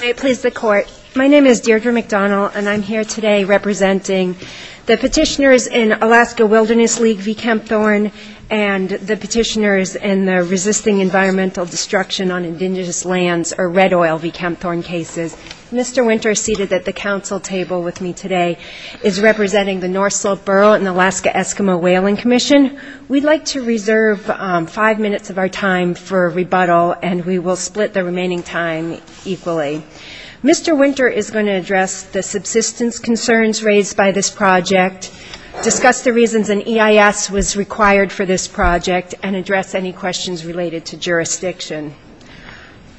May it please the court, my name is Deirdre McDonald and I'm here today representing the petitioners in Alaska Wilderness League v. Kempthorne and the petitioners in the resisting environmental destruction on indigenous lands or red oil v. Kempthorne cases. Mr. Winter is seated at the council table with me today. He is representing the North Slope Borough and the Alaska Eskimo Whaling Commission. We'd like to reserve five minutes of our time for rebuttal and we will split the remaining time equally. Mr. Winter is going to address the subsistence concerns raised by this project, discuss the reasons an EIS was required for this project and address any questions related to jurisdiction.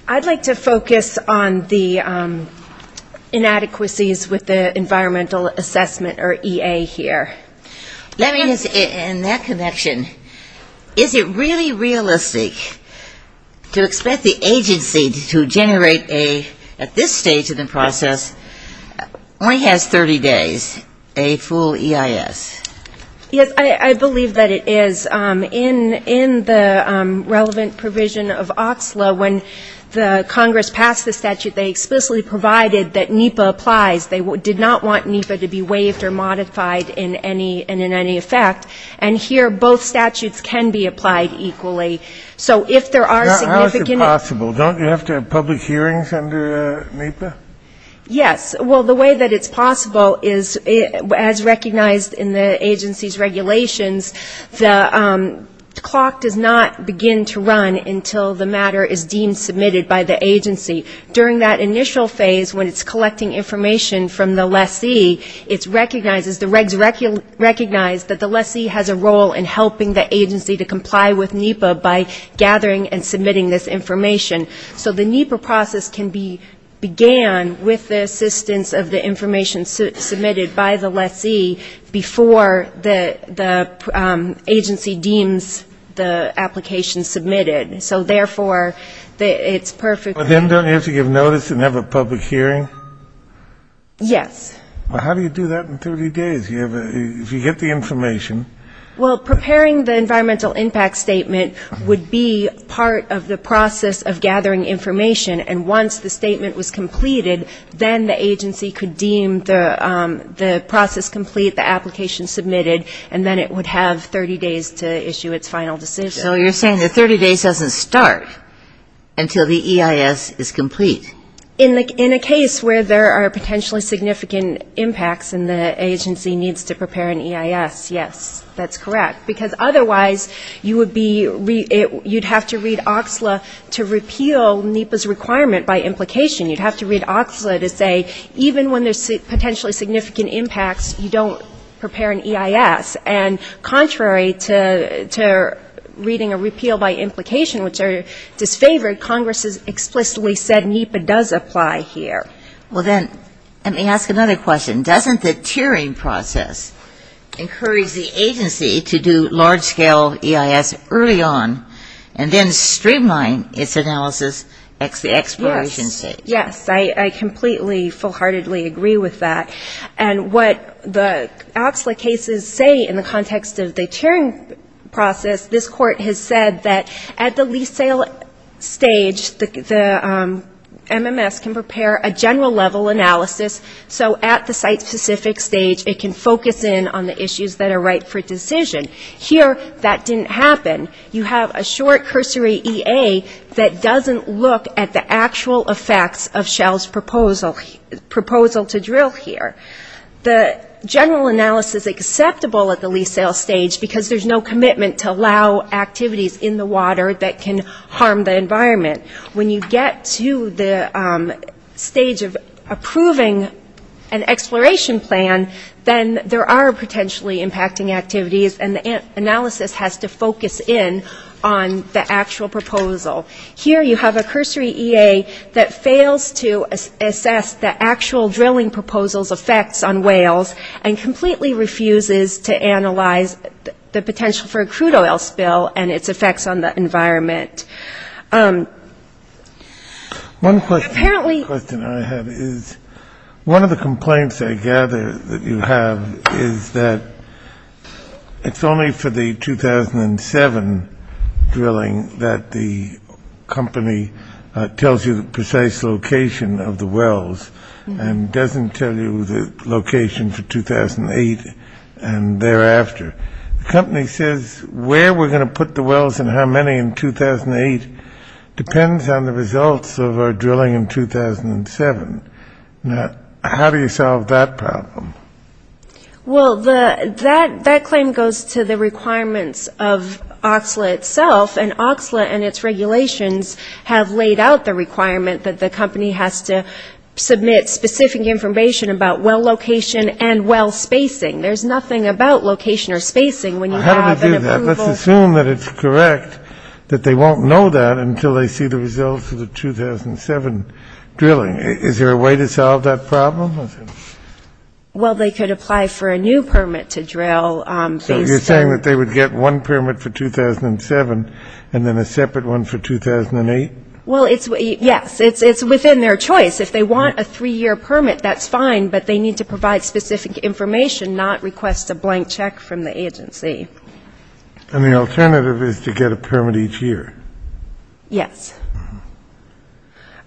I'd like to focus on the EIS. Let me ask in that connection, is it really realistic to expect the agency to generate a, at this stage of the process, only has 30 days, a full EIS? Yes, I believe that it is. In the relevant provision of OXLA, when the Congress passed the statute, they explicitly provided that NEPA applies. They did not want NEPA to be in any effect. And here, both statutes can be applied equally. So if there are significant How is it possible? Don't you have to have public hearings under NEPA? Yes. Well, the way that it's possible is, as recognized in the agency's regulations, the clock does not begin to run until the matter is deemed submitted by the agency. During that initial phase, when it's collecting information from the lessee, it's recognized that the lessee has a role in helping the agency to comply with NEPA by gathering and submitting this information. So the NEPA process can be began with the assistance of the information submitted by the lessee before the agency deems the application submitted. So therefore, it's perfect. But then don't you have to give notice and have a public hearing? Yes. Well, how do you do that in 30 days, if you get the information? Well, preparing the environmental impact statement would be part of the process of gathering information. And once the statement was completed, then the agency could deem the process complete, the application submitted, and then it would have 30 days to issue its final decision. So you're saying that 30 days doesn't start until the EIS is complete. In a case where there are potentially significant impacts and the agency needs to prepare an EIS, yes, that's correct. Because otherwise, you would have to read OXLA to repeal NEPA's requirement by implication. You'd have to read OXLA to say, even when there's potentially significant impacts, you don't prepare an EIS. And contrary to reading a repeal by implication, which are disfavored, Congress has explicitly said NEPA does apply here. Well then, let me ask another question. Doesn't the tiering process encourage the agency to do large-scale EIS early on and then streamline its analysis at the exploration stage? Yes. I completely, full-heartedly agree with that. And what the OXLA cases say in the context of the tiering process, this Court has said that at the lease sale stage, the MMS can prepare a general-level analysis so at the site-specific stage, it can focus in on the issues that are right for decision. Here, that didn't happen. You have a short cursory EA that doesn't look at the actual effects of Shell's proposal to drill here. The general analysis is acceptable at the lease sale stage because there's no commitment to allow activities in the water that can harm the environment. When you get to the stage of approving an exploration plan, then there are potentially impacting activities and the analysis has to focus in on the actual proposal. Here, you have a cursory EA that looks at the effects on whales and completely refuses to analyze the potential for a crude oil spill and its effects on the environment. One question I have is, one of the complaints I gather that you have is that it's only for the 2007 drilling that the company tells you the precise location of the wells and doesn't tell you the location for 2008 and thereafter. The company says where we're going to put the wells and how many in 2008 depends on the results of our drilling in 2007. Now, how do you solve that problem? Well, that claim goes to the requirements of OXLA itself, and OXLA and its regulations have laid out the requirement that the company has to submit specific information about well location and well spacing. There's nothing about location or spacing when you have an How do they do that? Let's assume that it's correct that they won't know that until they see the results of the 2007 drilling. Is there a way to solve that problem? Well, they could apply for a new permit to drill based on So you're saying that they would get one permit for 2007 and then a separate one for 2008? Well, yes. It's within their choice. If they want a three-year permit, that's fine, but they need to provide specific information, not request a blank check from the agency. And the alternative is to get a permit each year? Yes.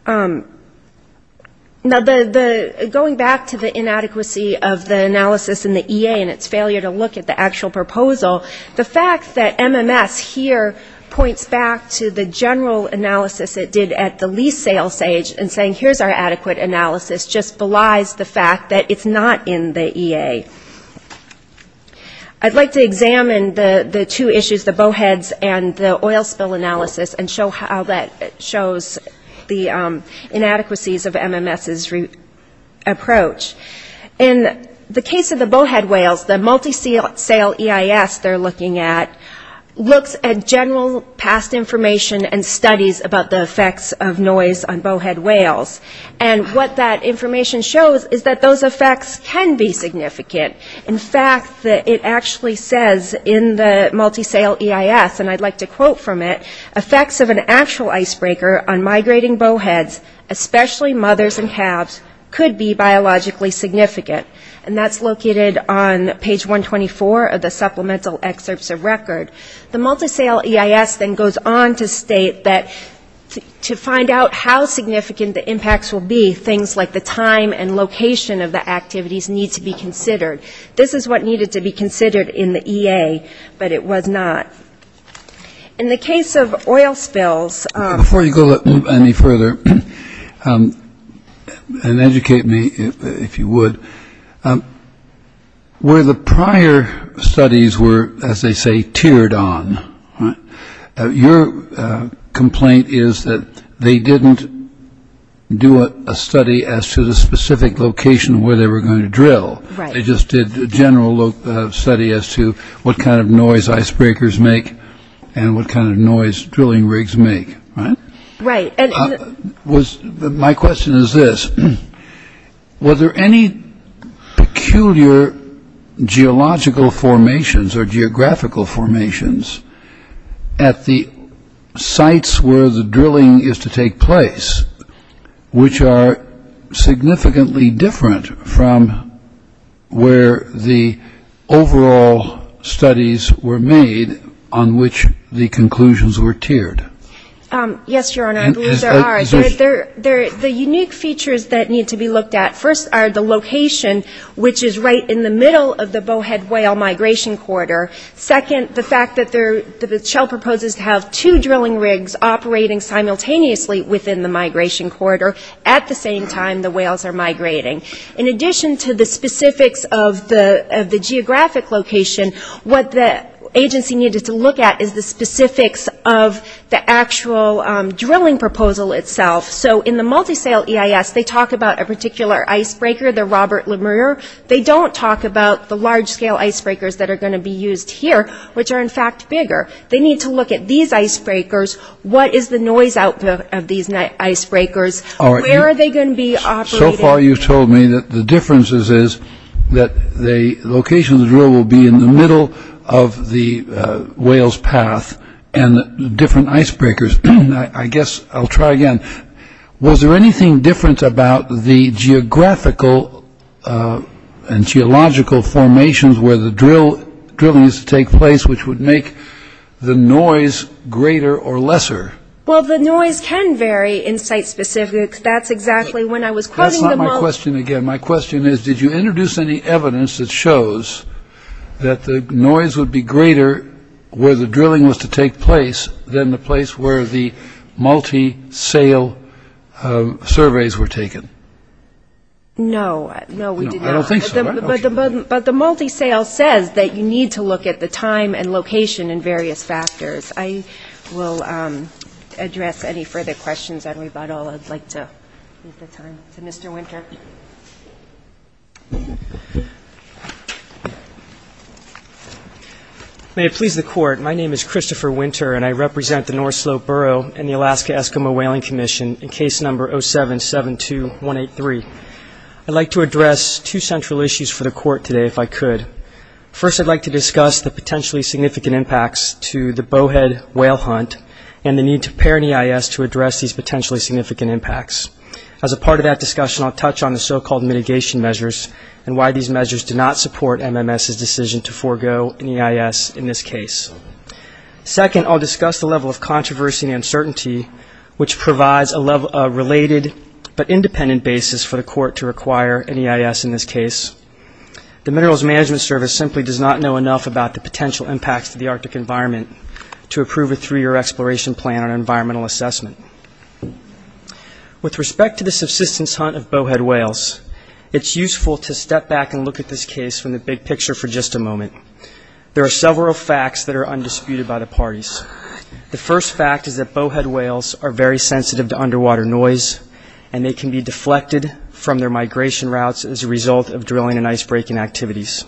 Now, going back to the inadequacy of the analysis in the EA and its failure to look at the actual proposal, the fact that MMS here points back to the general analysis it did at the lease sales stage and saying, here's our adequate analysis, just belies the fact that it's not in the EA. I'd like to examine the two issues, the bowheads and the oil spill analysis, and show how that shows the inadequacies of MMS's approach. In the case of the bowhead whales, the multi-sale EIS they're looking at looks at general past information and studies about the effects of noise on bowhead whales. And what that information shows is that those effects can be significant. In fact, it actually says in the multi-sale EIS, and I'd like to quote from it, effects of an actual icebreaker on significant. And that's located on page 124 of the supplemental excerpts of record. The multi-sale EIS then goes on to state that to find out how significant the impacts will be, things like the time and location of the activities need to be considered. This is what needed to be considered in the EA, but it was not. In the case of oil spills ñ Before you go any further, and educate me if you would, where the prior studies were, as they say, tiered on, your complaint is that they didn't do a study as to the specific location where they were going to drill. They just did a general study as to what kind of drilling was going to take place. My question is this. Were there any peculiar geological formations or geographical formations at the sites where the drilling is to take place, which are significantly different from where the overall studies were made on which the conclusions were tiered? Yes, Your Honor, I believe there are. The unique features that need to be looked at first are the location, which is right in the middle of the Bowhead Whale Migration Corridor. Second, the fact that Shell proposes to have two drilling rigs operating simultaneously within the Migration Corridor at the same time the whales are migrating. In addition to the specifics of the geographic location, what the agency needed to look at is the specifics of the actual drilling proposal itself. So in the multi-sale EIS, they talk about a particular icebreaker, the Robert Lemurier. They don't talk about the large-scale icebreakers that are going to be used here, which are in fact bigger. They need to look at these icebreakers, what is the noise output of these icebreakers, where are they going to be operating. So far you've told me that the difference is that the location of the drill will be in the middle of the whales' path and the different icebreakers. I guess I'll try again. Was there anything different about the geographical and geological formations where the drilling used to take place, which would make the noise greater or lesser? Well, the noise can vary in site specifics. That's exactly when I was quoting the moment. My question is, did you introduce any evidence that shows that the noise would be greater where the drilling was to take place than the place where the multi-sale surveys were taken? No. No, we did not. I don't think so. But the multi-sale says that you need to look at the time and location and various factors. I will address any further questions on rebuttal. I'd like to leave the time to Mr. Winter. May it please the Court, my name is Christopher Winter and I represent the North Slope Borough and the Alaska Eskimo Whaling Commission in case number 0772183. I'd like to address two central issues for the Court today, if I could. First, I'd like to discuss the potentially significant impacts to the bowhead whale hunt and the need to pair an EIS to address these potentially significant impacts. As a part of that discussion, I'll touch on the so-called mitigation measures and why these measures do not support MMS's decision to forego an EIS in this case. Second, I'll discuss the level of controversy and uncertainty which provides a related but independent basis for the Court to require an EIS in this case. The Minerals Management Service simply does not know enough about the potential impacts to the Arctic environment to approve a three-year exploration plan on environmental assessment. With respect to the subsistence hunt of bowhead whales, it's useful to step back and look at this case from the big picture for just a moment. There are several facts that are undisputed by the parties. The first fact is that bowhead whales are very sensitive to underwater noise and they can be deflected from their migration routes as a result of drilling and ice breaking activities.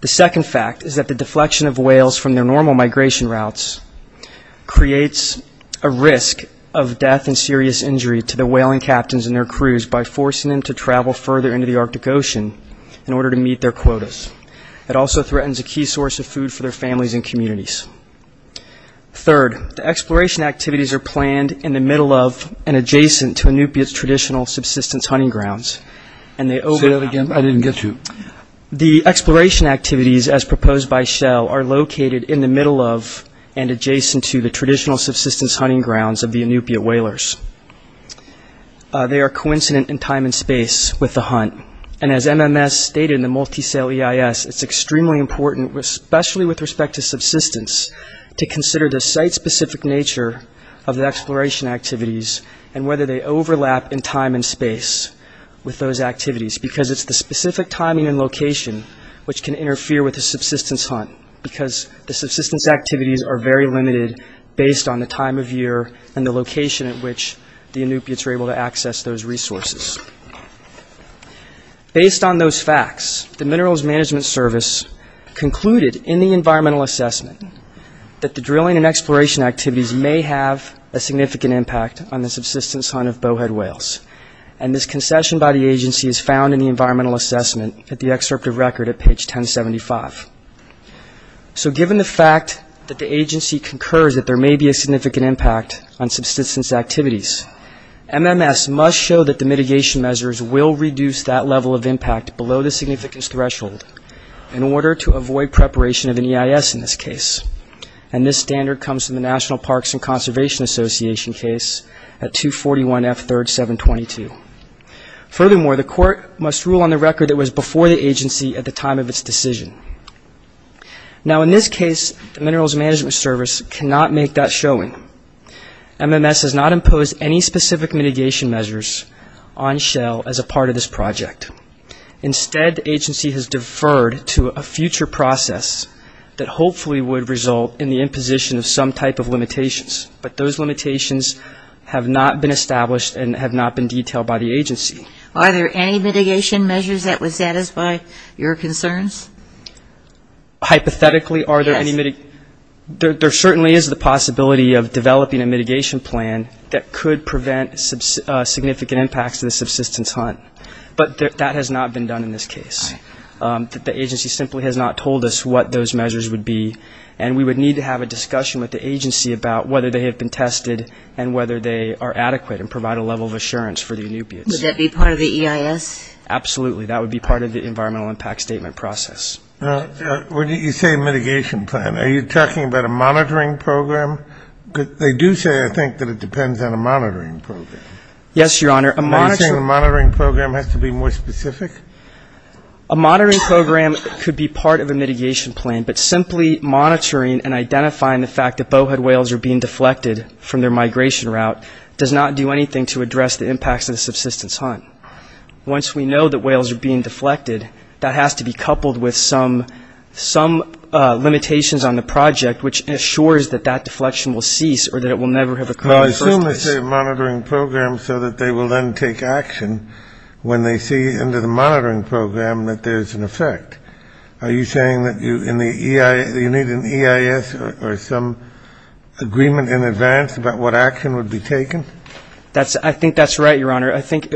The second fact is that the deflection of whales from their normal migration routes creates a risk of death and serious injury to the whaling captains and their crews by forcing them to travel further into the Arctic Ocean in order to meet their quotas. It also threatens a key source of food for their families and communities. Third, the exploration activities are planned in the middle of and adjacent to Inupiaq's traditional subsistence hunting grounds and they open up... Say that again, I didn't get you. The exploration activities, as proposed by Shell, are located in the middle of and adjacent to the traditional subsistence hunting grounds of the Inupiaq whalers. They are coincident in time and space with the hunt and as MMS stated in the multi-sale EIS, it's extremely important, especially with respect to subsistence, to consider the site-specific nature of the exploration activities and whether they overlap in time and space with those activities because it's the specific timing and location which can interfere with the subsistence hunt because the subsistence activities are very limited based on the time of year and the location at which the Inupiaqs are able to access those resources. Based on those facts, the Minerals Management Service concluded in the environmental assessment that the drilling and exploration activities may have a significant impact on the subsistence hunt of bowhead whales and this concession by the agency is found in the environmental assessment at the excerpt of record at page 1075. So given the fact that the agency concurs that there may be a significant impact on subsistence activities, MMS must show that the mitigation measures will reduce that level of impact below the significance threshold in order to avoid preparation of an EIS in this case and this standard comes from the National Parks and Conservation Association case at 241F3-722. Furthermore, the court must rule on the record that it was before the agency at the time of its decision. Now in this case, the Minerals Management Service cannot make that showing. MMS has not imposed any specific mitigation measures on Shell as a part of this project. Instead, the agency has deferred to a future process that hopefully would result in the limitations have not been established and have not been detailed by the agency. Are there any mitigation measures that would satisfy your concerns? Hypothetically, there certainly is the possibility of developing a mitigation plan that could prevent significant impacts to the subsistence hunt, but that has not been done in this case. The agency simply has not told us what those measures would be and we would need to have a discussion with the agency about whether they have been tested and whether they are adequate and provide a level of assurance for the inubiates. Would that be part of the EIS? Absolutely. That would be part of the environmental impact statement process. Now, when you say mitigation plan, are you talking about a monitoring program? They do say, I think, that it depends on a monitoring program. Yes, Your Honor. Are you saying the monitoring program has to be more specific? A monitoring program could be part of a mitigation plan, but simply monitoring and identifying the fact that bowhead whales are being deflected from their migration route does not do anything to address the impacts of the subsistence hunt. Once we know that whales are being deflected, that has to be coupled with some limitations on the project, which ensures that that deflection will cease or that it will never have occurred in the first place. But I assume they say a monitoring program so that they will then take action when they see under the monitoring program that there's an effect. Are you saying that you need an EIS or some agreement in advance about what action would be taken? I think that's right, Your Honor. I think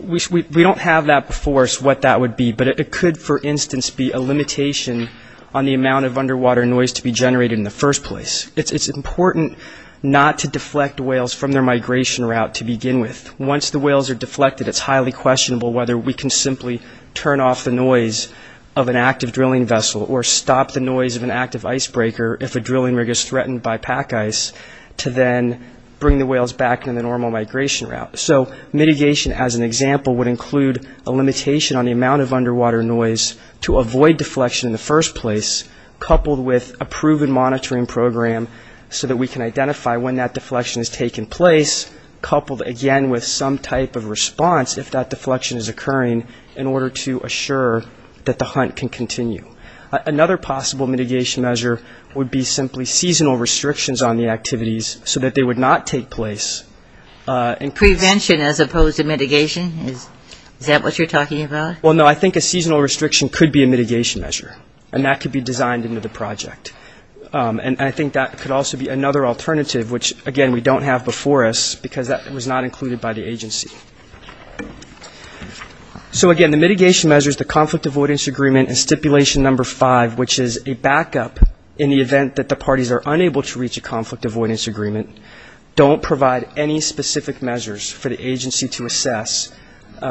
we don't have that before us, what that would be, but it could, for instance, be a limitation on the amount of underwater noise to be generated in the first place. It's important not to deflect whales from their migration route to begin with. Once the whales are deflected, it's highly questionable whether we can simply turn off the noise of an active drilling vessel or stop the noise of an active icebreaker if a drilling rig is threatened by pack ice to then bring the whales back in the normal migration route. So mitigation, as an example, would include a limitation on the amount of underwater noise to avoid deflection in the first place, coupled with a proven monitoring program so that we can identify when that deflection has taken place, coupled, again, with some type of response if that deflection is occurring in order to assure that the hunt can continue. Another possible mitigation measure would be simply seasonal restrictions on the activities so that they would not take place. Prevention as opposed to mitigation, is that what you're talking about? Well, no, I think a seasonal restriction could be a mitigation measure, and that could be designed into the project. And I think that could also be another alternative, which, again, we don't have before us because that was not included by the agency. So again, the mitigation measures, the conflict avoidance agreement, and stipulation number five, which is a backup in the event that the parties are unable to reach a conflict avoidance agreement, don't provide any specific measures for the agency to assess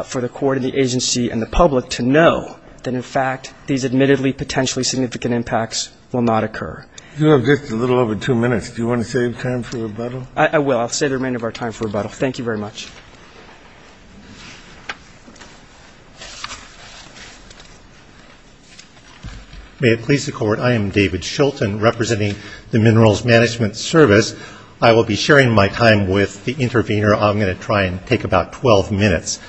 for the agency and the public to know that, in fact, these admittedly potentially significant impacts will not occur. You have just a little over two minutes. Do you want to save time for rebuttal? I will. I'll save the remainder of our time for rebuttal. Thank you very much. May it please the Court, I am David Shulton, representing the Minerals Management Service. I will be sharing my time with the intervener. I'm going to try and take about 12 minutes.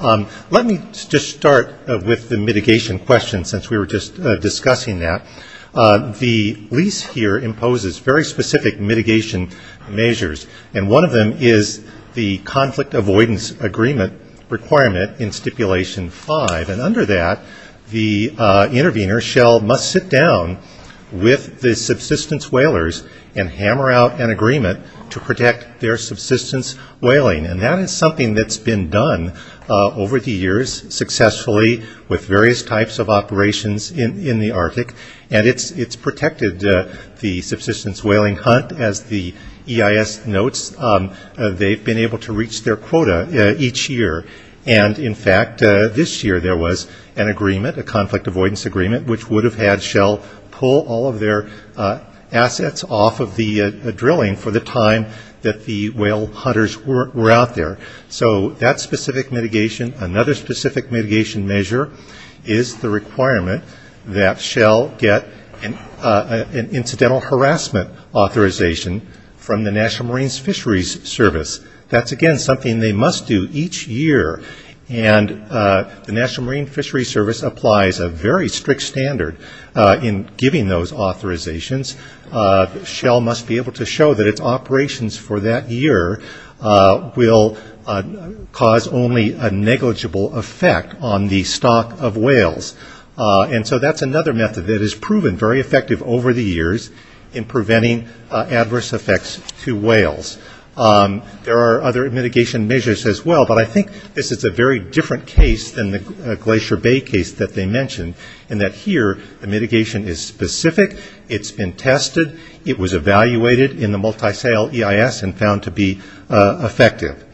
Let me just start with the mitigation question, since we were just discussing that. The lease here imposes very specific mitigation measures, and one of them is the conflict avoidance agreement requirement in stipulation five. And under that, the intervener shall must sit down with the subsistence whalers and hammer out an agreement to protect their subsistence whaling. And that is something that's been done over the years successfully with various types of operations in the Arctic, and it's protected the subsistence whaling hunt. As the EIS notes, they've been able to reach their quota each year. And in fact, this year there was an agreement, a conflict avoidance agreement, which would have had Shell pull all of their assets off of the drilling for the time that the whale hunters were out there. So that's specific mitigation. Another specific mitigation measure is the requirement that Shell get an incidental harassment authorization from the National Marine Fisheries Service. That's again something they must do each year, and the National Marine Fisheries Service applies a very strict standard in giving those authorizations. Shell must be able to show that its operations for that year will cause only a negligible effect on the stock of whales. And so that's another method that has proven very effective over the years in preventing adverse effects to whales. There are other mitigation measures as well, but I think this is a very different case than the Glacier Bay case that they mentioned, in that here the mitigation is specific. It's been tested. It was evaluated in the multi-sale EIS and found to be effective.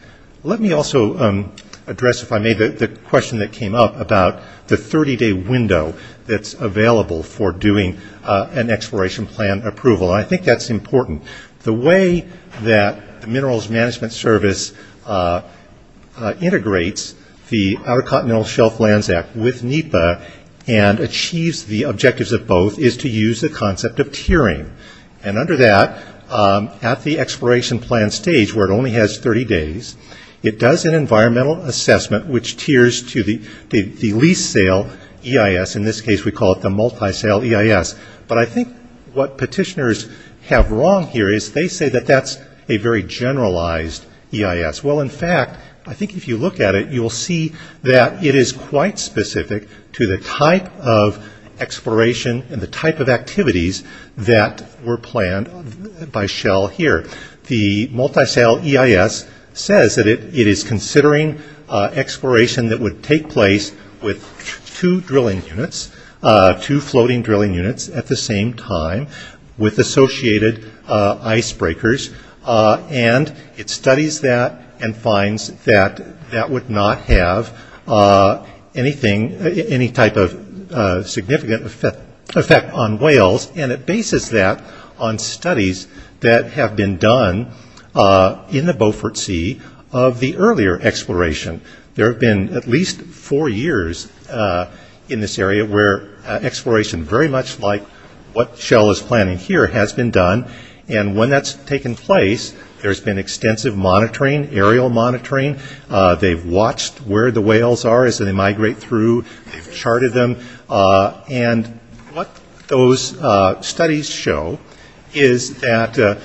Let me also address, if I may, the question that came up about the 30-day window that's available for doing an exploration plan approval, and I think that's important. The way that the Minerals Management Service integrates the Outer Continental Shelf Lands Act with NEPA and achieves the objectives of both is to use the concept of tiering. And under that, at the exploration plan stage where it only has 30 days, it does an environmental assessment which tiers to the lease sale EIS, in this case we call it the multi-sale EIS. But I think what petitioners have wrong here is they say that that's a very generalized EIS. Well, in fact, I think if you look at it, you'll see that it is quite specific to the type of exploration and the type of activities that were planned by Shell here. The multi-sale EIS says that it is considering exploration that would take place with two drilling units, two floating drilling units at the same time with associated ice breakers, and it studies that and finds that that would not have any type of significant effect on whales and it bases that on studies that have been done in the Beaufort Sea of the earlier exploration. There have been at least four years in this area where exploration very much like what and that's taken place, there's been extensive monitoring, aerial monitoring, they've watched where the whales are as they migrate through, they've charted them, and what those studies show is that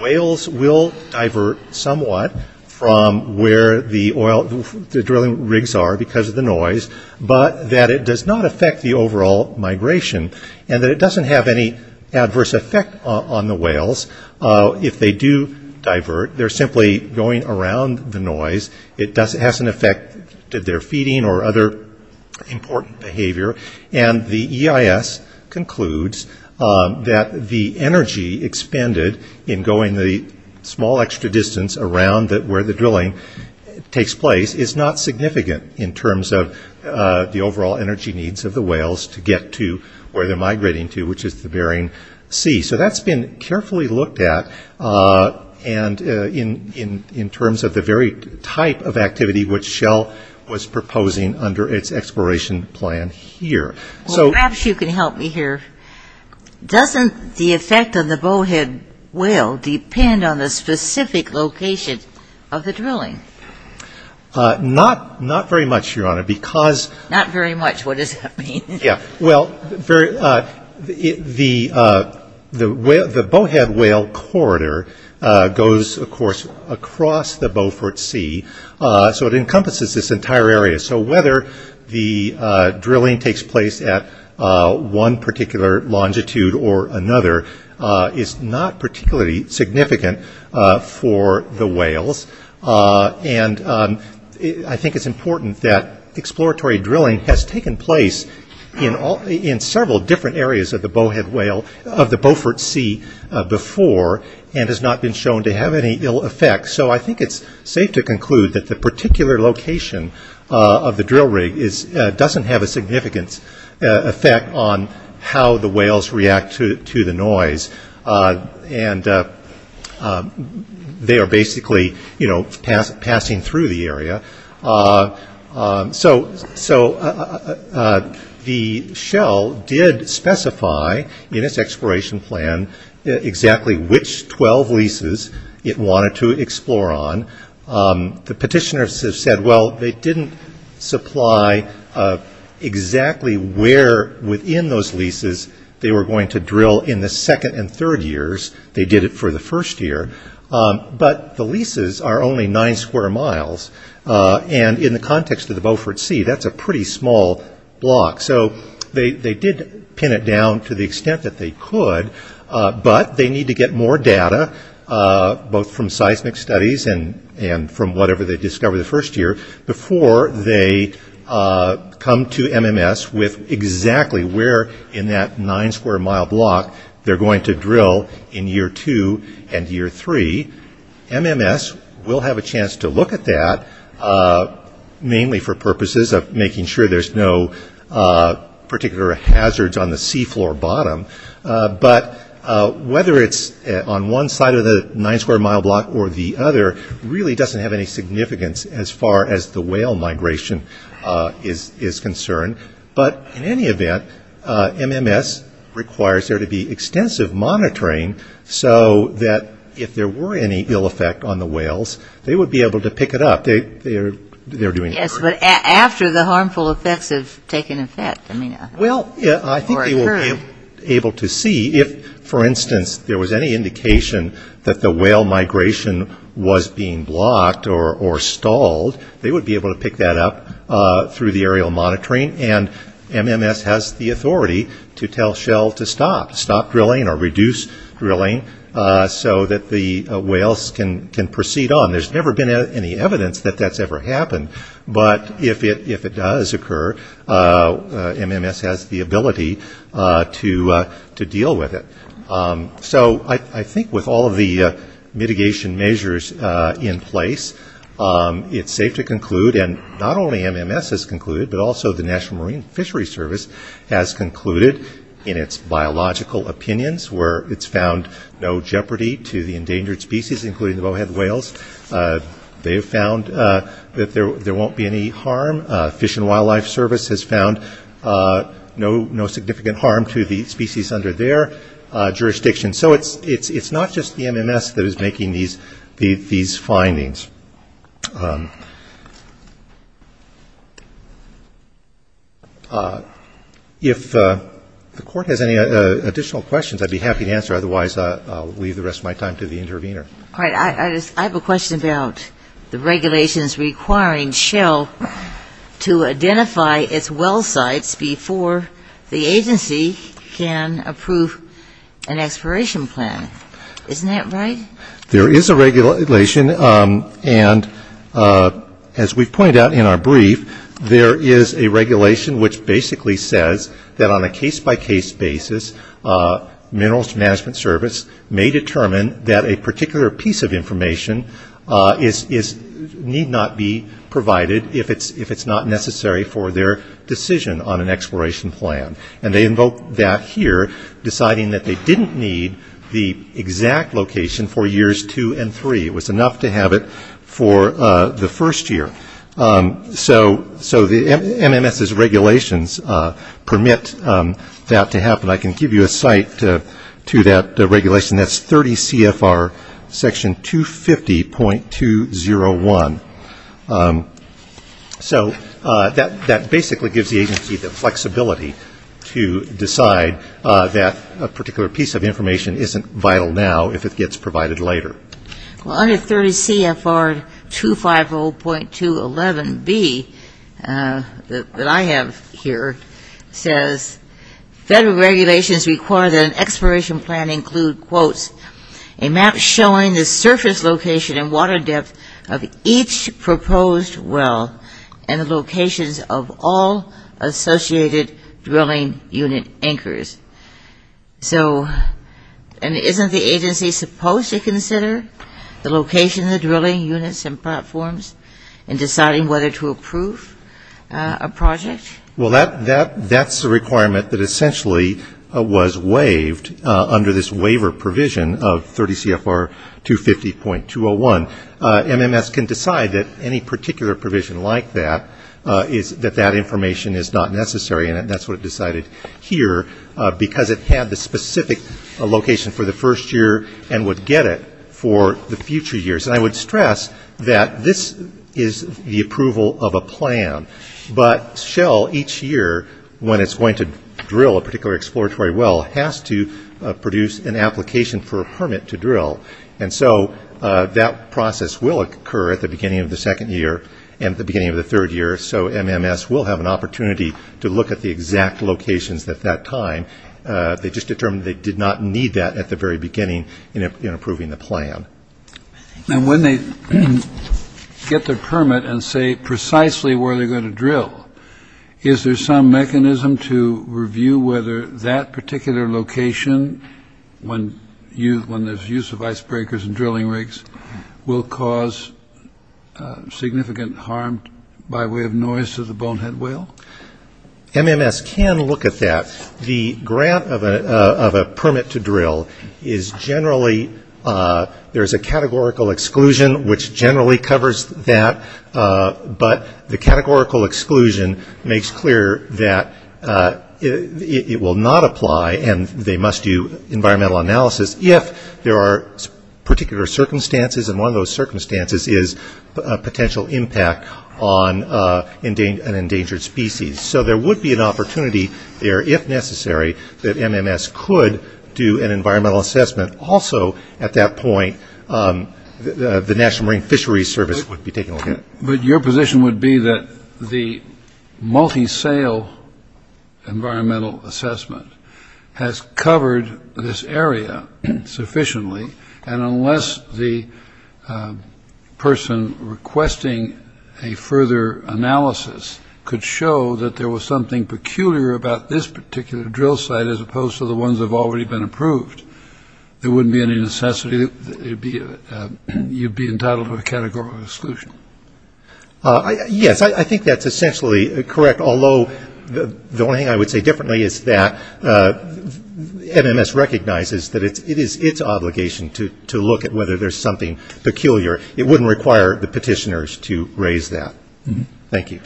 whales will divert somewhat from where the drilling rigs are because of the noise, but that it does not affect the overall migration and that it doesn't have any adverse effect on the whales if they do divert, they're simply going around the noise, it has an effect that they're feeding or other important behavior, and the EIS concludes that the energy expended in going the small extra distance around where the drilling takes place is not significant in terms of the overall energy needs of the whales to get to where they're migrating to, which is the Bering Sea, so that's been carefully looked at and in terms of the very type of activity which Shell was proposing under its exploration plan here. So perhaps you can help me here, doesn't the effect on the bowhead whale depend on the specific location of the drilling? Not very much, Your Honor, because... Not very much, what does that mean? Yeah, well, the bowhead whale corridor goes of course across the Beaufort Sea, so it encompasses this entire area, so whether the drilling takes place at one particular longitude or another is not particularly significant for the whales, and I think it's important that in several different areas of the Beaufort Sea before, and has not been shown to have any ill effects, so I think it's safe to conclude that the particular location of the drill rig doesn't have a significant effect on how the whales react to the noise, and they are basically passing through the area. So the Shell did specify in its exploration plan exactly which 12 leases it wanted to explore on, the petitioners have said, well, they didn't supply exactly where within those leases they were going to drill in the second and third years, they did it for the first year, but the leases are only 9 square miles, and in the context of the Beaufort Sea, that's a pretty small block, so they did pin it down to the extent that they could, but they need to get more data, both from seismic studies and from whatever they discover the first year before they come to MMS with exactly where in that 9 square mile block they're going to drill in year 2 and year 3, MMS will have a chance to look at that, mainly for purposes of making sure there's no particular hazards on the seafloor bottom, but whether it's on one side of the 9 square mile block or the other really doesn't have any significance as far as the whale migration is concerned, but in any event, MMS requires there to be extensive monitoring so that if there were any ill effect on the whales, they would be able to pick it up, they're doing a good job. Yes, but after the harmful effects have taken effect, I mean, or occurred. Well, I think they will be able to see if, for instance, there was any indication that the whale migration was being blocked or stalled, they would be able to pick that up through the aerial monitoring and MMS has the authority to tell Shell to stop, stop drilling or reduce drilling so that the whales can proceed on. There's never been any evidence that that's ever happened, but if it does occur, MMS has the ability to deal with it. So I think with all of the mitigation measures in place, it's safe to conclude, and not only MMS has concluded, but also the National Marine Fisheries Service has concluded in its biological opinions where it's found no jeopardy to the endangered species, including the bowhead whales, they've found that there won't be any harm, Fish and Wildlife Service has found no significant harm to the species under their jurisdiction. So it's not just the MMS that is making these findings. If the Court has any additional questions, I'd be happy to answer, otherwise I'll leave the rest of my time to the intervener. All right, I have a question about the regulations requiring Shell to identify its well sites before the agency can approve an exploration plan. Isn't that right? There is a regulation, and as we've pointed out in our brief, there is a regulation which basically says that on a case-by-case basis, Minerals Management Service may determine that a particular piece of information need not be provided if it's not necessary for their decision on an exploration plan. And they invoke that here, deciding that they didn't need the exact location for years two and three, it was enough to have it for the first year. So the MMS's regulations permit that to happen. And I can give you a site to that regulation, that's 30 CFR section 250.201. So that basically gives the agency the flexibility to decide that a particular piece of information isn't vital now if it gets provided later. Well, under 30 CFR 250.211B, that I have here, says, Federal Regulatory Enforcement regulations require that an exploration plan include, quote, a map showing the surface location and water depth of each proposed well and the locations of all associated drilling unit anchors. So isn't the agency supposed to consider the location of the drilling units and platforms in deciding whether to approve a project? Well, that's a requirement that essentially was waived under this waiver provision of 30 CFR 250.201. MMS can decide that any particular provision like that, that that information is not necessary and that's what it decided here because it had the specific location for the first year and would get it for the future years. And I would stress that this is the approval of a plan. But Shell, each year, when it's going to drill a particular exploratory well, has to produce an application for a permit to drill. And so that process will occur at the beginning of the second year and the beginning of the third year. So MMS will have an opportunity to look at the exact locations at that time. They just determined they did not need that at the very beginning in approving the plan. And when they get their permit and say precisely where they're going to drill, is there some mechanism to review whether that particular location, when there's use of icebreakers and drilling rigs, will cause significant harm by way of noise to the bonehead whale? MMS can look at that. The grant of a permit to drill is generally, there's a categorical exclusion which generally covers that, but the categorical exclusion makes clear that it will not apply and they must do environmental analysis if there are particular circumstances and one of those circumstances is a potential impact on an endangered species. So there would be an opportunity there, if necessary, that MMS could do an environmental assessment. Also at that point, the National Marine Fisheries Service would be taking a look at it. But your position would be that the multi-sale environmental assessment has covered this area sufficiently and unless the person requesting a further analysis could show that the area there was something peculiar about this particular drill site as opposed to the ones that have already been approved, there wouldn't be any necessity, you'd be entitled to a categorical exclusion. Yes, I think that's essentially correct, although the only thing I would say differently is that MMS recognizes that it is its obligation to look at whether there's something peculiar. It wouldn't require the petitioners to raise that. Thank you.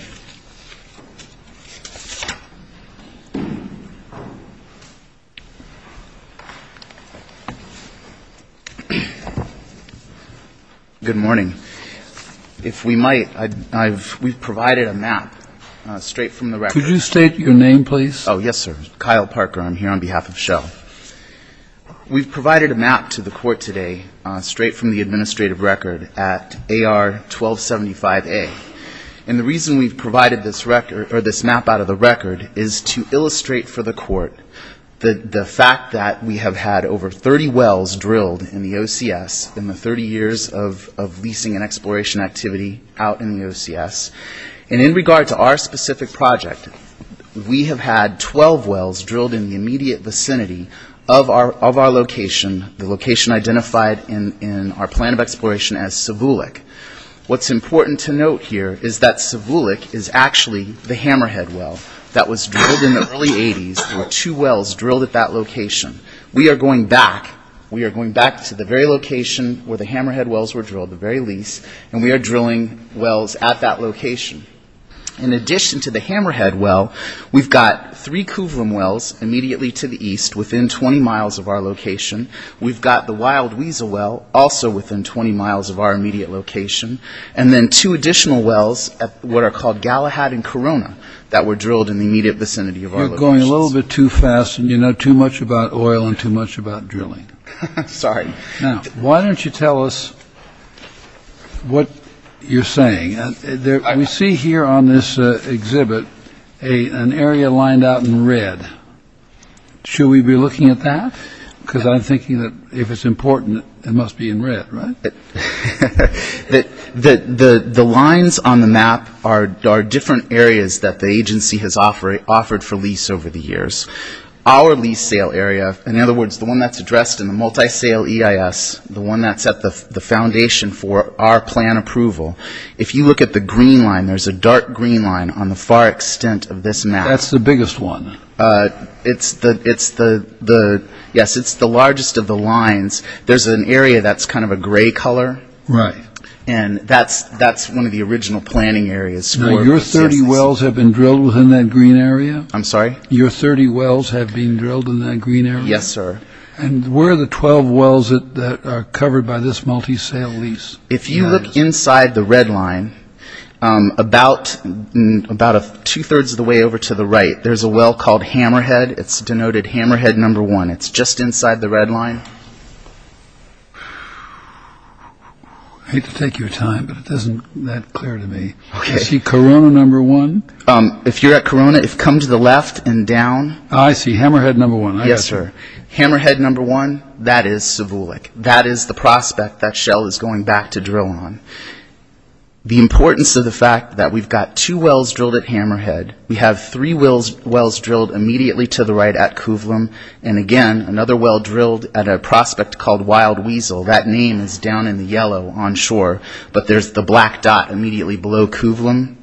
Good morning. If we might, we've provided a map straight from the record. Could you state your name, please? Oh, yes, sir. Kyle Parker. I'm here on behalf of Shell. We've provided a map to the court today straight from the administrative record at AR 1275A. The reason we've provided this map out of the record is to illustrate for the court the fact that we have had over 30 wells drilled in the OCS in the 30 years of leasing and exploration activity out in the OCS. In regard to our specific project, we have had 12 wells drilled in the immediate vicinity of our location, the location identified in our plan of exploration as Savulik. What's important to note here is that Savulik is actually the Hammerhead well that was drilled in the early 80s. There were two wells drilled at that location. We are going back to the very location where the Hammerhead wells were drilled, the very lease, and we are drilling wells at that location. In addition to the Hammerhead well, we've got three Kuvlum wells immediately to the east within 20 miles of our location. We've got the Wild Weasel well also within 20 miles of our immediate location, and then two additional wells at what are called Galahad and Corona that were drilled in the immediate vicinity of our location. You're going a little bit too fast, and you know too much about oil and too much about drilling. Sorry. Now, why don't you tell us what you're saying. We see here on this exhibit an area lined out in red. Should we be looking at that? Because I'm thinking that if it's important, it must be in red, right? The lines on the map are different areas that the agency has offered for lease over the years. Our lease sale area, in other words, the one that's addressed in the multi-sale EIS, the one that's at the foundation for our plan approval, if you look at the green line, there's a dark green line on the far extent of this map. That's the biggest one? Yes, it's the largest of the lines. There's an area that's kind of a gray color, and that's one of the original planning areas. Your 30 wells have been drilled within that green area? I'm sorry? Your 30 wells have been drilled in that green area? Yes, sir. Where are the 12 wells that are covered by this multi-sale lease? If you look inside the red line, about two-thirds of the way over to the right, there's a well called Hammerhead. It's denoted Hammerhead No. 1. It's just inside the red line. I hate to take your time, but it doesn't add clear to me. Is he Corona No. 1? If you're at Corona, if you come to the left and down. I see Hammerhead No. 1. Yes, sir. Hammerhead No. 1, that is Savulik. That is the prospect that Shell is going back to drill on. The importance of the fact that we've got two wells drilled at Hammerhead. We have three wells drilled immediately to the right at Kuvlum, and again, another well drilled at a prospect called Wild Weasel. That name is down in the yellow onshore, but there's the black dot immediately below Kuvlum,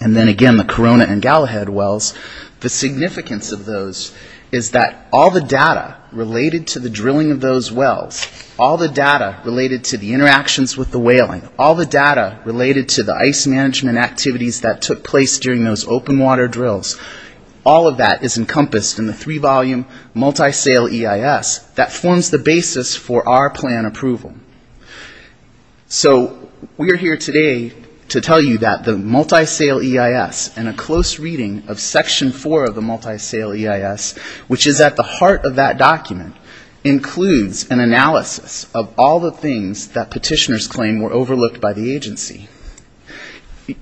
and then again, the Corona and Galahad wells. The significance of those is that all the data related to the drilling of those wells, all the data related to the interactions with the whaling, all the data related to the ice management activities that took place during those open water drills, all of that is encompassed in the three-volume multi-sale EIS that forms the basis for our plan approval. So, we are here today to tell you that the multi-sale EIS and a close reading of Section 4 of the multi-sale EIS, which is at the heart of that document, includes an analysis of all the things that petitioners claim were overlooked by the agency.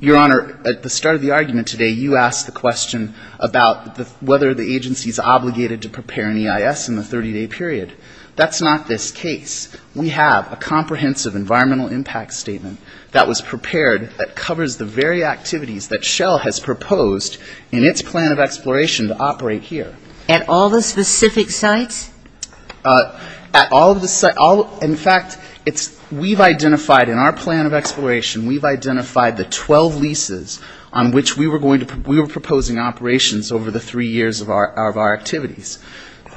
Your Honor, at the start of the argument today, you asked the question about whether the agency is obligated to prepare an EIS in the 30-day period. That's not this case. We have a comprehensive environmental impact statement that was prepared that covers the very activities that Shell has proposed in its plan of exploration to operate here. At all the specific sites? At all of the sites. In fact, we've identified in our plan of exploration, we've identified the 12 leases on which we were proposing operations over the three years of our activities.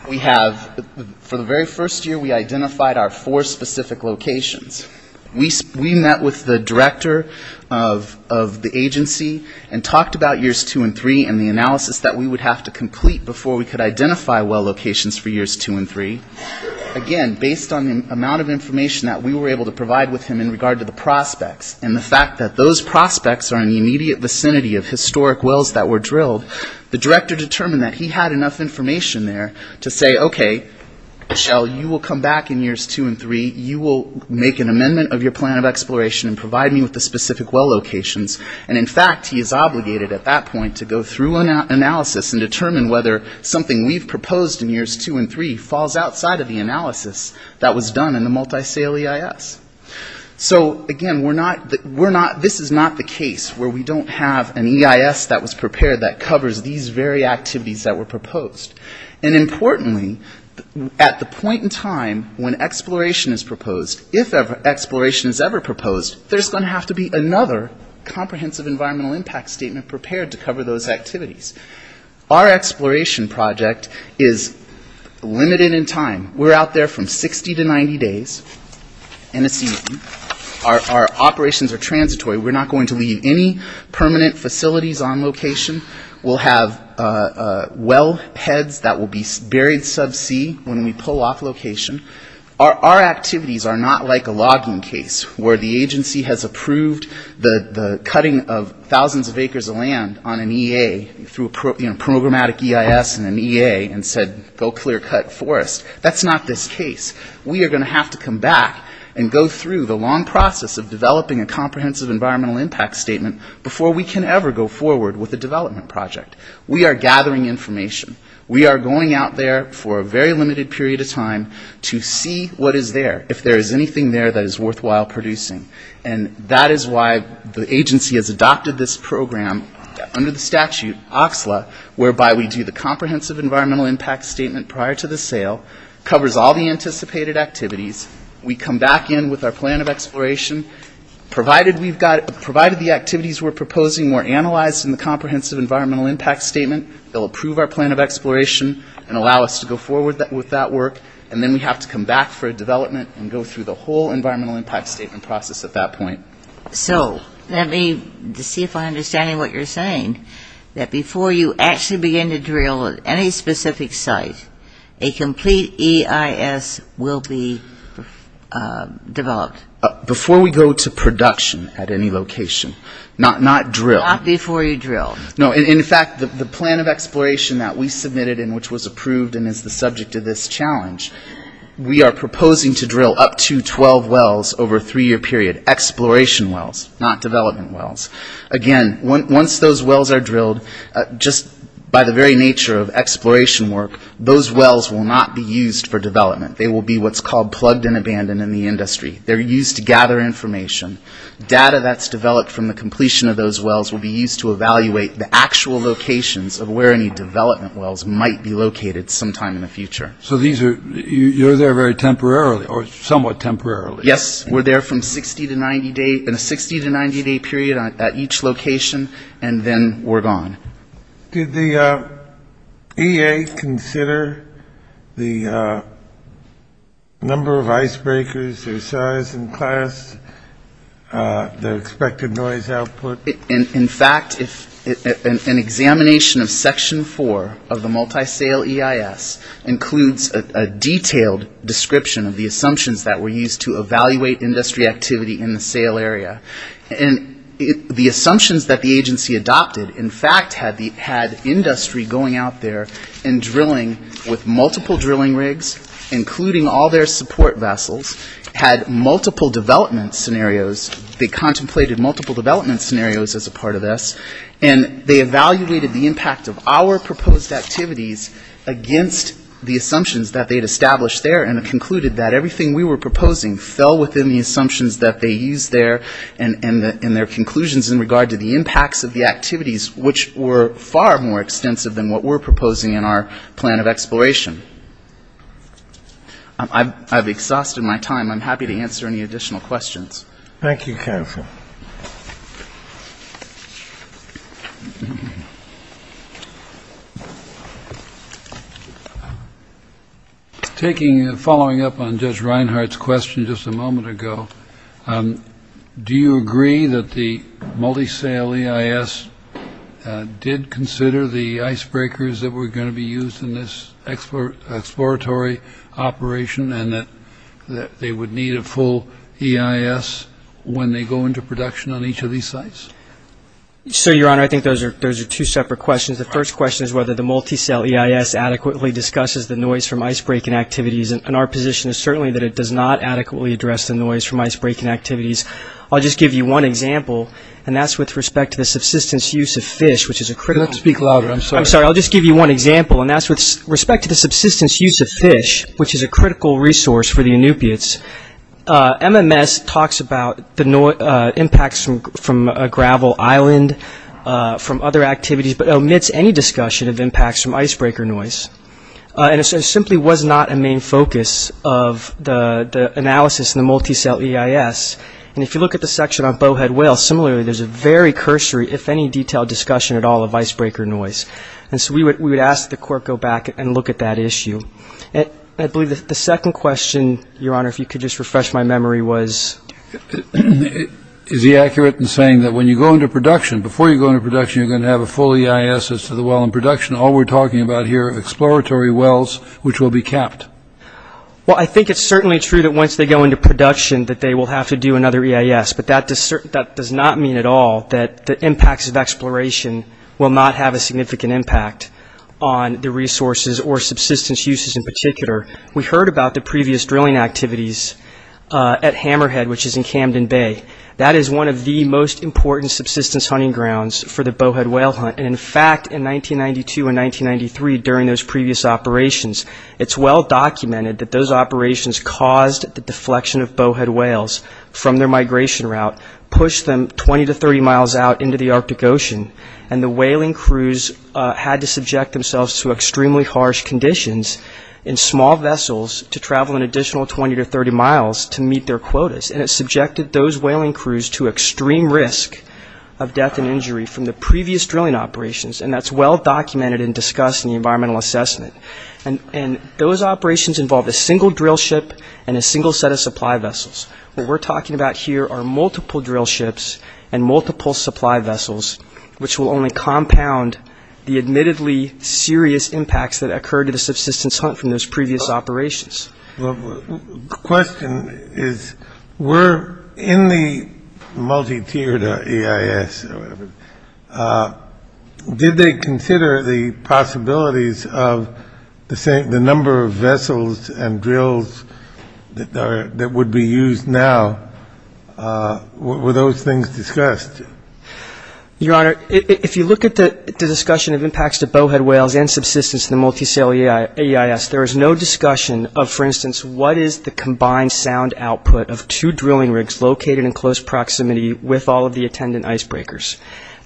We have, for the very first year, we identified our four specific locations. We met with the director of the agency and talked about years two and three and the analysis that we would have to complete before we could identify well locations for years two and three. Again, based on the amount of information that we were able to provide with him in regard to the prospects, and the fact that those prospects are in the immediate vicinity of say, okay, Shell, you will come back in years two and three, you will make an amendment of your plan of exploration and provide me with the specific well locations. In fact, he is obligated at that point to go through an analysis and determine whether something we've proposed in years two and three falls outside of the analysis that was done in the multi-sale EIS. Again, this is not the case where we don't have an EIS that was prepared that covers these very activities that were proposed. And importantly, at the point in time when exploration is proposed, if exploration is ever proposed, there's going to have to be another comprehensive environmental impact statement prepared to cover those activities. Our exploration project is limited in time. We're out there from 60 to 90 days in a season. Our operations are transitory. We're not going to leave any permanent facilities on location. We'll have well heads that will be buried subsea when we pull off location. Our activities are not like a logging case where the agency has approved the cutting of thousands of acres of land on an EA through a programmatic EIS and an EA and said, go clear-cut forest. That's not this case. We are going to have to come back and go through the long process of developing a comprehensive environmental impact statement before we can ever go forward with a development project. We are gathering information. We are going out there for a very limited period of time to see what is there, if there is anything there that is worthwhile producing. And that is why the agency has adopted this program under the statute, OCSLA, whereby we do the comprehensive environmental impact statement prior to the sale, covers all the anticipated activities. We come back in with our plan of exploration. Provided the activities we're proposing were analyzed in the comprehensive environmental impact statement, they'll approve our plan of exploration and allow us to go forward with that work, and then we have to come back for a development and go through the whole environmental impact statement process at that point. So let me see if I understand what you're saying, that before you actually begin to drill at any specific site, a complete EIS will be developed? Before we go to production at any location. Not drill. Not before you drill. No. In fact, the plan of exploration that we submitted and which was approved and is the subject of this challenge, we are proposing to drill up to 12 wells over a three-year period, exploration wells, not development wells. Again, once those wells are drilled, just by the very nature of exploration work, those wells will not be used for development. They will be what's called plugged and abandoned in the industry. They're used to gather information. Data that's developed from the completion of those wells will be used to evaluate the actual locations of where any development wells might be located sometime in the future. So you're there very temporarily or somewhat temporarily? Yes. We're there from 60 to 90 days, in a 60 to 90-day period at each location, and then we're gone. Did the EA consider the number of icebreakers, their size and class, their expected noise output? In fact, an examination of Section 4 of the Multi-Sale EIS includes a detailed description of the assumptions that were used to evaluate industry activity in the sale area. And the assumptions that the agency adopted, in fact, had industry going out there and drilling with multiple drilling rigs, including all their support vessels, had multiple development scenarios. They contemplated multiple development scenarios as a part of this. And they evaluated the impact of our proposed activities against the assumptions that they had established there and concluded that everything we were proposing fell within the assumptions that they used there and their conclusions in regard to the impacts of the activities, which were far more extensive than what we're proposing in our plan of exploration. I've exhausted my time. I'm happy to answer any additional questions. Thank you, counsel. Thank you. Taking and following up on Judge Reinhardt's question just a moment ago, do you agree that the Multi-Sale EIS did consider the icebreakers that were going to be used in this exploratory operation and that they would need a full EIS when they go into production on each of these sites? Sir, Your Honor, I think those are two separate questions. The first question is whether the Multi-Sale EIS adequately discusses the noise from icebreaking activities. And our position is certainly that it does not adequately address the noise from icebreaking activities. I'll just give you one example, and that's with respect to the subsistence use of fish, which is a critical – Speak louder. I'm sorry. I'm sorry. I'll just give you one example, and that's with respect to the subsistence use of fish, which is a critical resource for the Inupiats. MMS talks about the impacts from a gravel island, from other activities, but omits any discussion of impacts from icebreaker noise. And it simply was not a main focus of the analysis in the Multi-Sale EIS. And if you look at the section on bowhead whales, similarly, there's a very cursory, if any, detailed discussion at all of icebreaker noise. And so we would ask that the court go back and look at that issue. I believe the second question, Your Honor, if you could just refresh my memory, was? Is he accurate in saying that when you go into production, before you go into production, you're going to have a full EIS as to the well in production? All we're talking about here are exploratory wells which will be capped. Well, I think it's certainly true that once they go into production that they will have to do another EIS, but that does not mean at all that the impacts of exploration will not have a significant impact on the resources or subsistence uses in particular. We heard about the previous drilling activities at Hammerhead, which is in Camden Bay. That is one of the most important subsistence hunting grounds for the bowhead whale hunt. And, in fact, in 1992 and 1993, during those previous operations, it's well documented that those operations caused the deflection of bowhead whales from their migration route, pushed them 20 to 30 miles out into the Arctic Ocean, and the whaling crews had to subject themselves to extremely harsh conditions in small vessels to travel an additional 20 to 30 miles to meet their quotas. And it subjected those whaling crews to extreme risk of death and injury from the previous drilling operations, and that's well documented and discussed in the environmental assessment. And those operations involved a single drill ship and a single set of supply vessels. What we're talking about here are multiple drill ships and multiple supply vessels, which will only compound the admittedly serious impacts that occur to the subsistence hunt from those previous operations. The question is, were in the multi-tiered EIS, did they consider the possibilities of the number of vessels and drills that would be used now? Were those things discussed? Your Honor, if you look at the discussion of impacts to bowhead whales and subsistence in the multi-cell EIS, there is no discussion of, for instance, what is the combined sound output of two drilling rigs located in close proximity with all of the attendant icebreakers.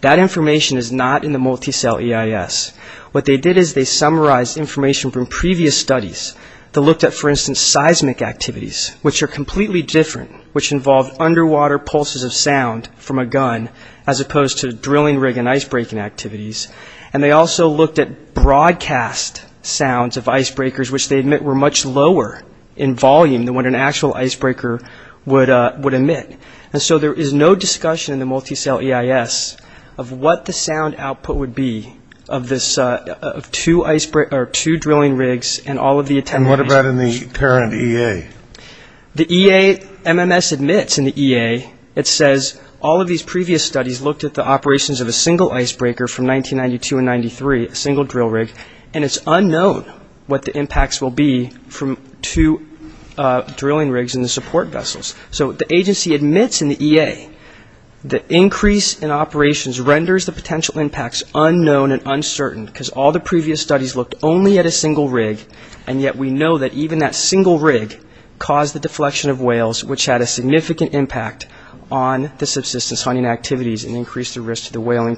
That information is not in the multi-cell EIS. What they did is they summarized information from previous studies that looked at, for instance, seismic activities, which are completely different, which involve underwater pulses of sound from a gun, as opposed to drilling rig and icebreaking activities. And they also looked at broadcast sounds of icebreakers, which they admit were much lower in volume than what an actual icebreaker would emit. And so there is no discussion in the multi-cell EIS of what the sound output would be of two drilling rigs and all of the attendant icebreakers. And what about in the current EA? The EMS admits in the EA, it says, all of these previous studies looked at the operations of a single icebreaker from 1992 and 1993, a single drill rig, and it's unknown what the impacts will be from two drilling rigs in the support vessels. So the agency admits in the EA that increase in operations renders the potential impacts unknown and uncertain, because all the previous studies looked only at a single rig, and yet we know that even that single rig caused the deflection of whales, which had a significant impact on the subsistence hunting activities and increased the risk to the whaling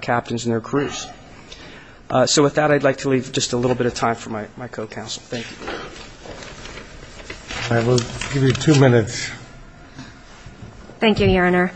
captains and their crews. So with that, I'd like to leave just a little bit of time for my co-counsel. Thank you. I will give you two minutes. Thank you, Your Honor.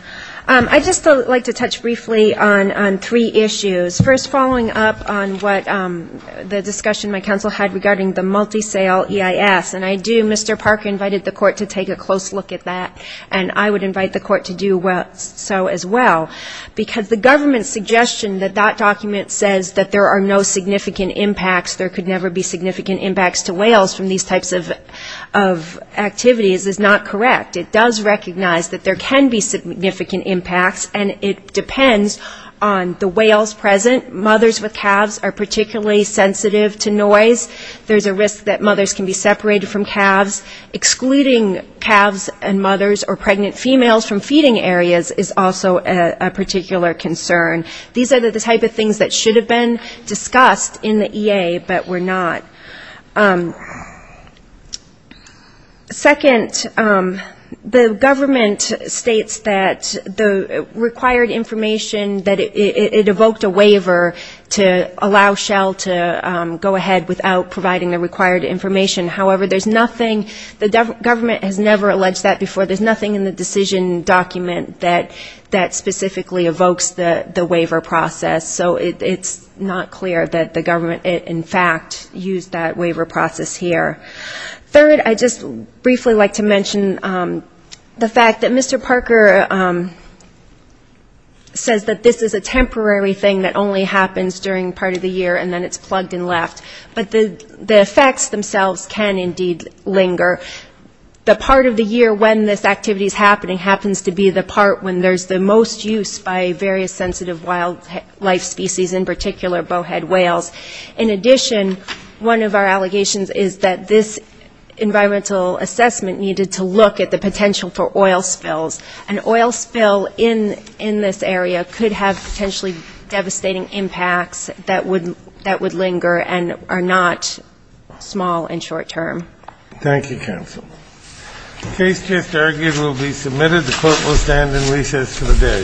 I'd just like to touch briefly on three issues. First, following up on what the discussion my counsel had regarding the multi-cell EIS, and I do, Mr. Parker invited the court to take a close look at that, and I would invite the court to do so as well, because the government's suggestion that that document says that there are no significant impacts, there could never be significant impacts to whales from these types of activities is not correct. It does recognize that there can be significant impacts, and it depends on the whales present. Mothers with calves are particularly sensitive to noise. There's a risk that mothers can be separated from calves. Excluding calves and mothers or pregnant females from feeding areas is also a particular concern. These are the type of things that should have been discussed in the EA, but were not. Second, the government states that the required information, that it evoked a waiver to allow Shell to go ahead without providing the required information. However, there's nothing, the government has never alleged that before. There's nothing in the decision document that specifically evokes the waiver process. So it's not clear that the government, in fact, used that waiver process here. Third, I'd just briefly like to mention the fact that Mr. Parker says that this is a temporary thing that only happens during part of the year, and then it's plugged and left. But the effects themselves can indeed linger. The part of the year when this activity is happening happens to be the part when there's the most use by various sensitive wildlife species, in particular bowhead whales. In addition, one of our allegations is that this environmental assessment needed to look at the potential for oil spills. An oil spill in this area could have potentially devastating impacts that would linger, but are not small and short-term. Thank you, counsel. The case just argued will be submitted. The Court will stand in recess for the day.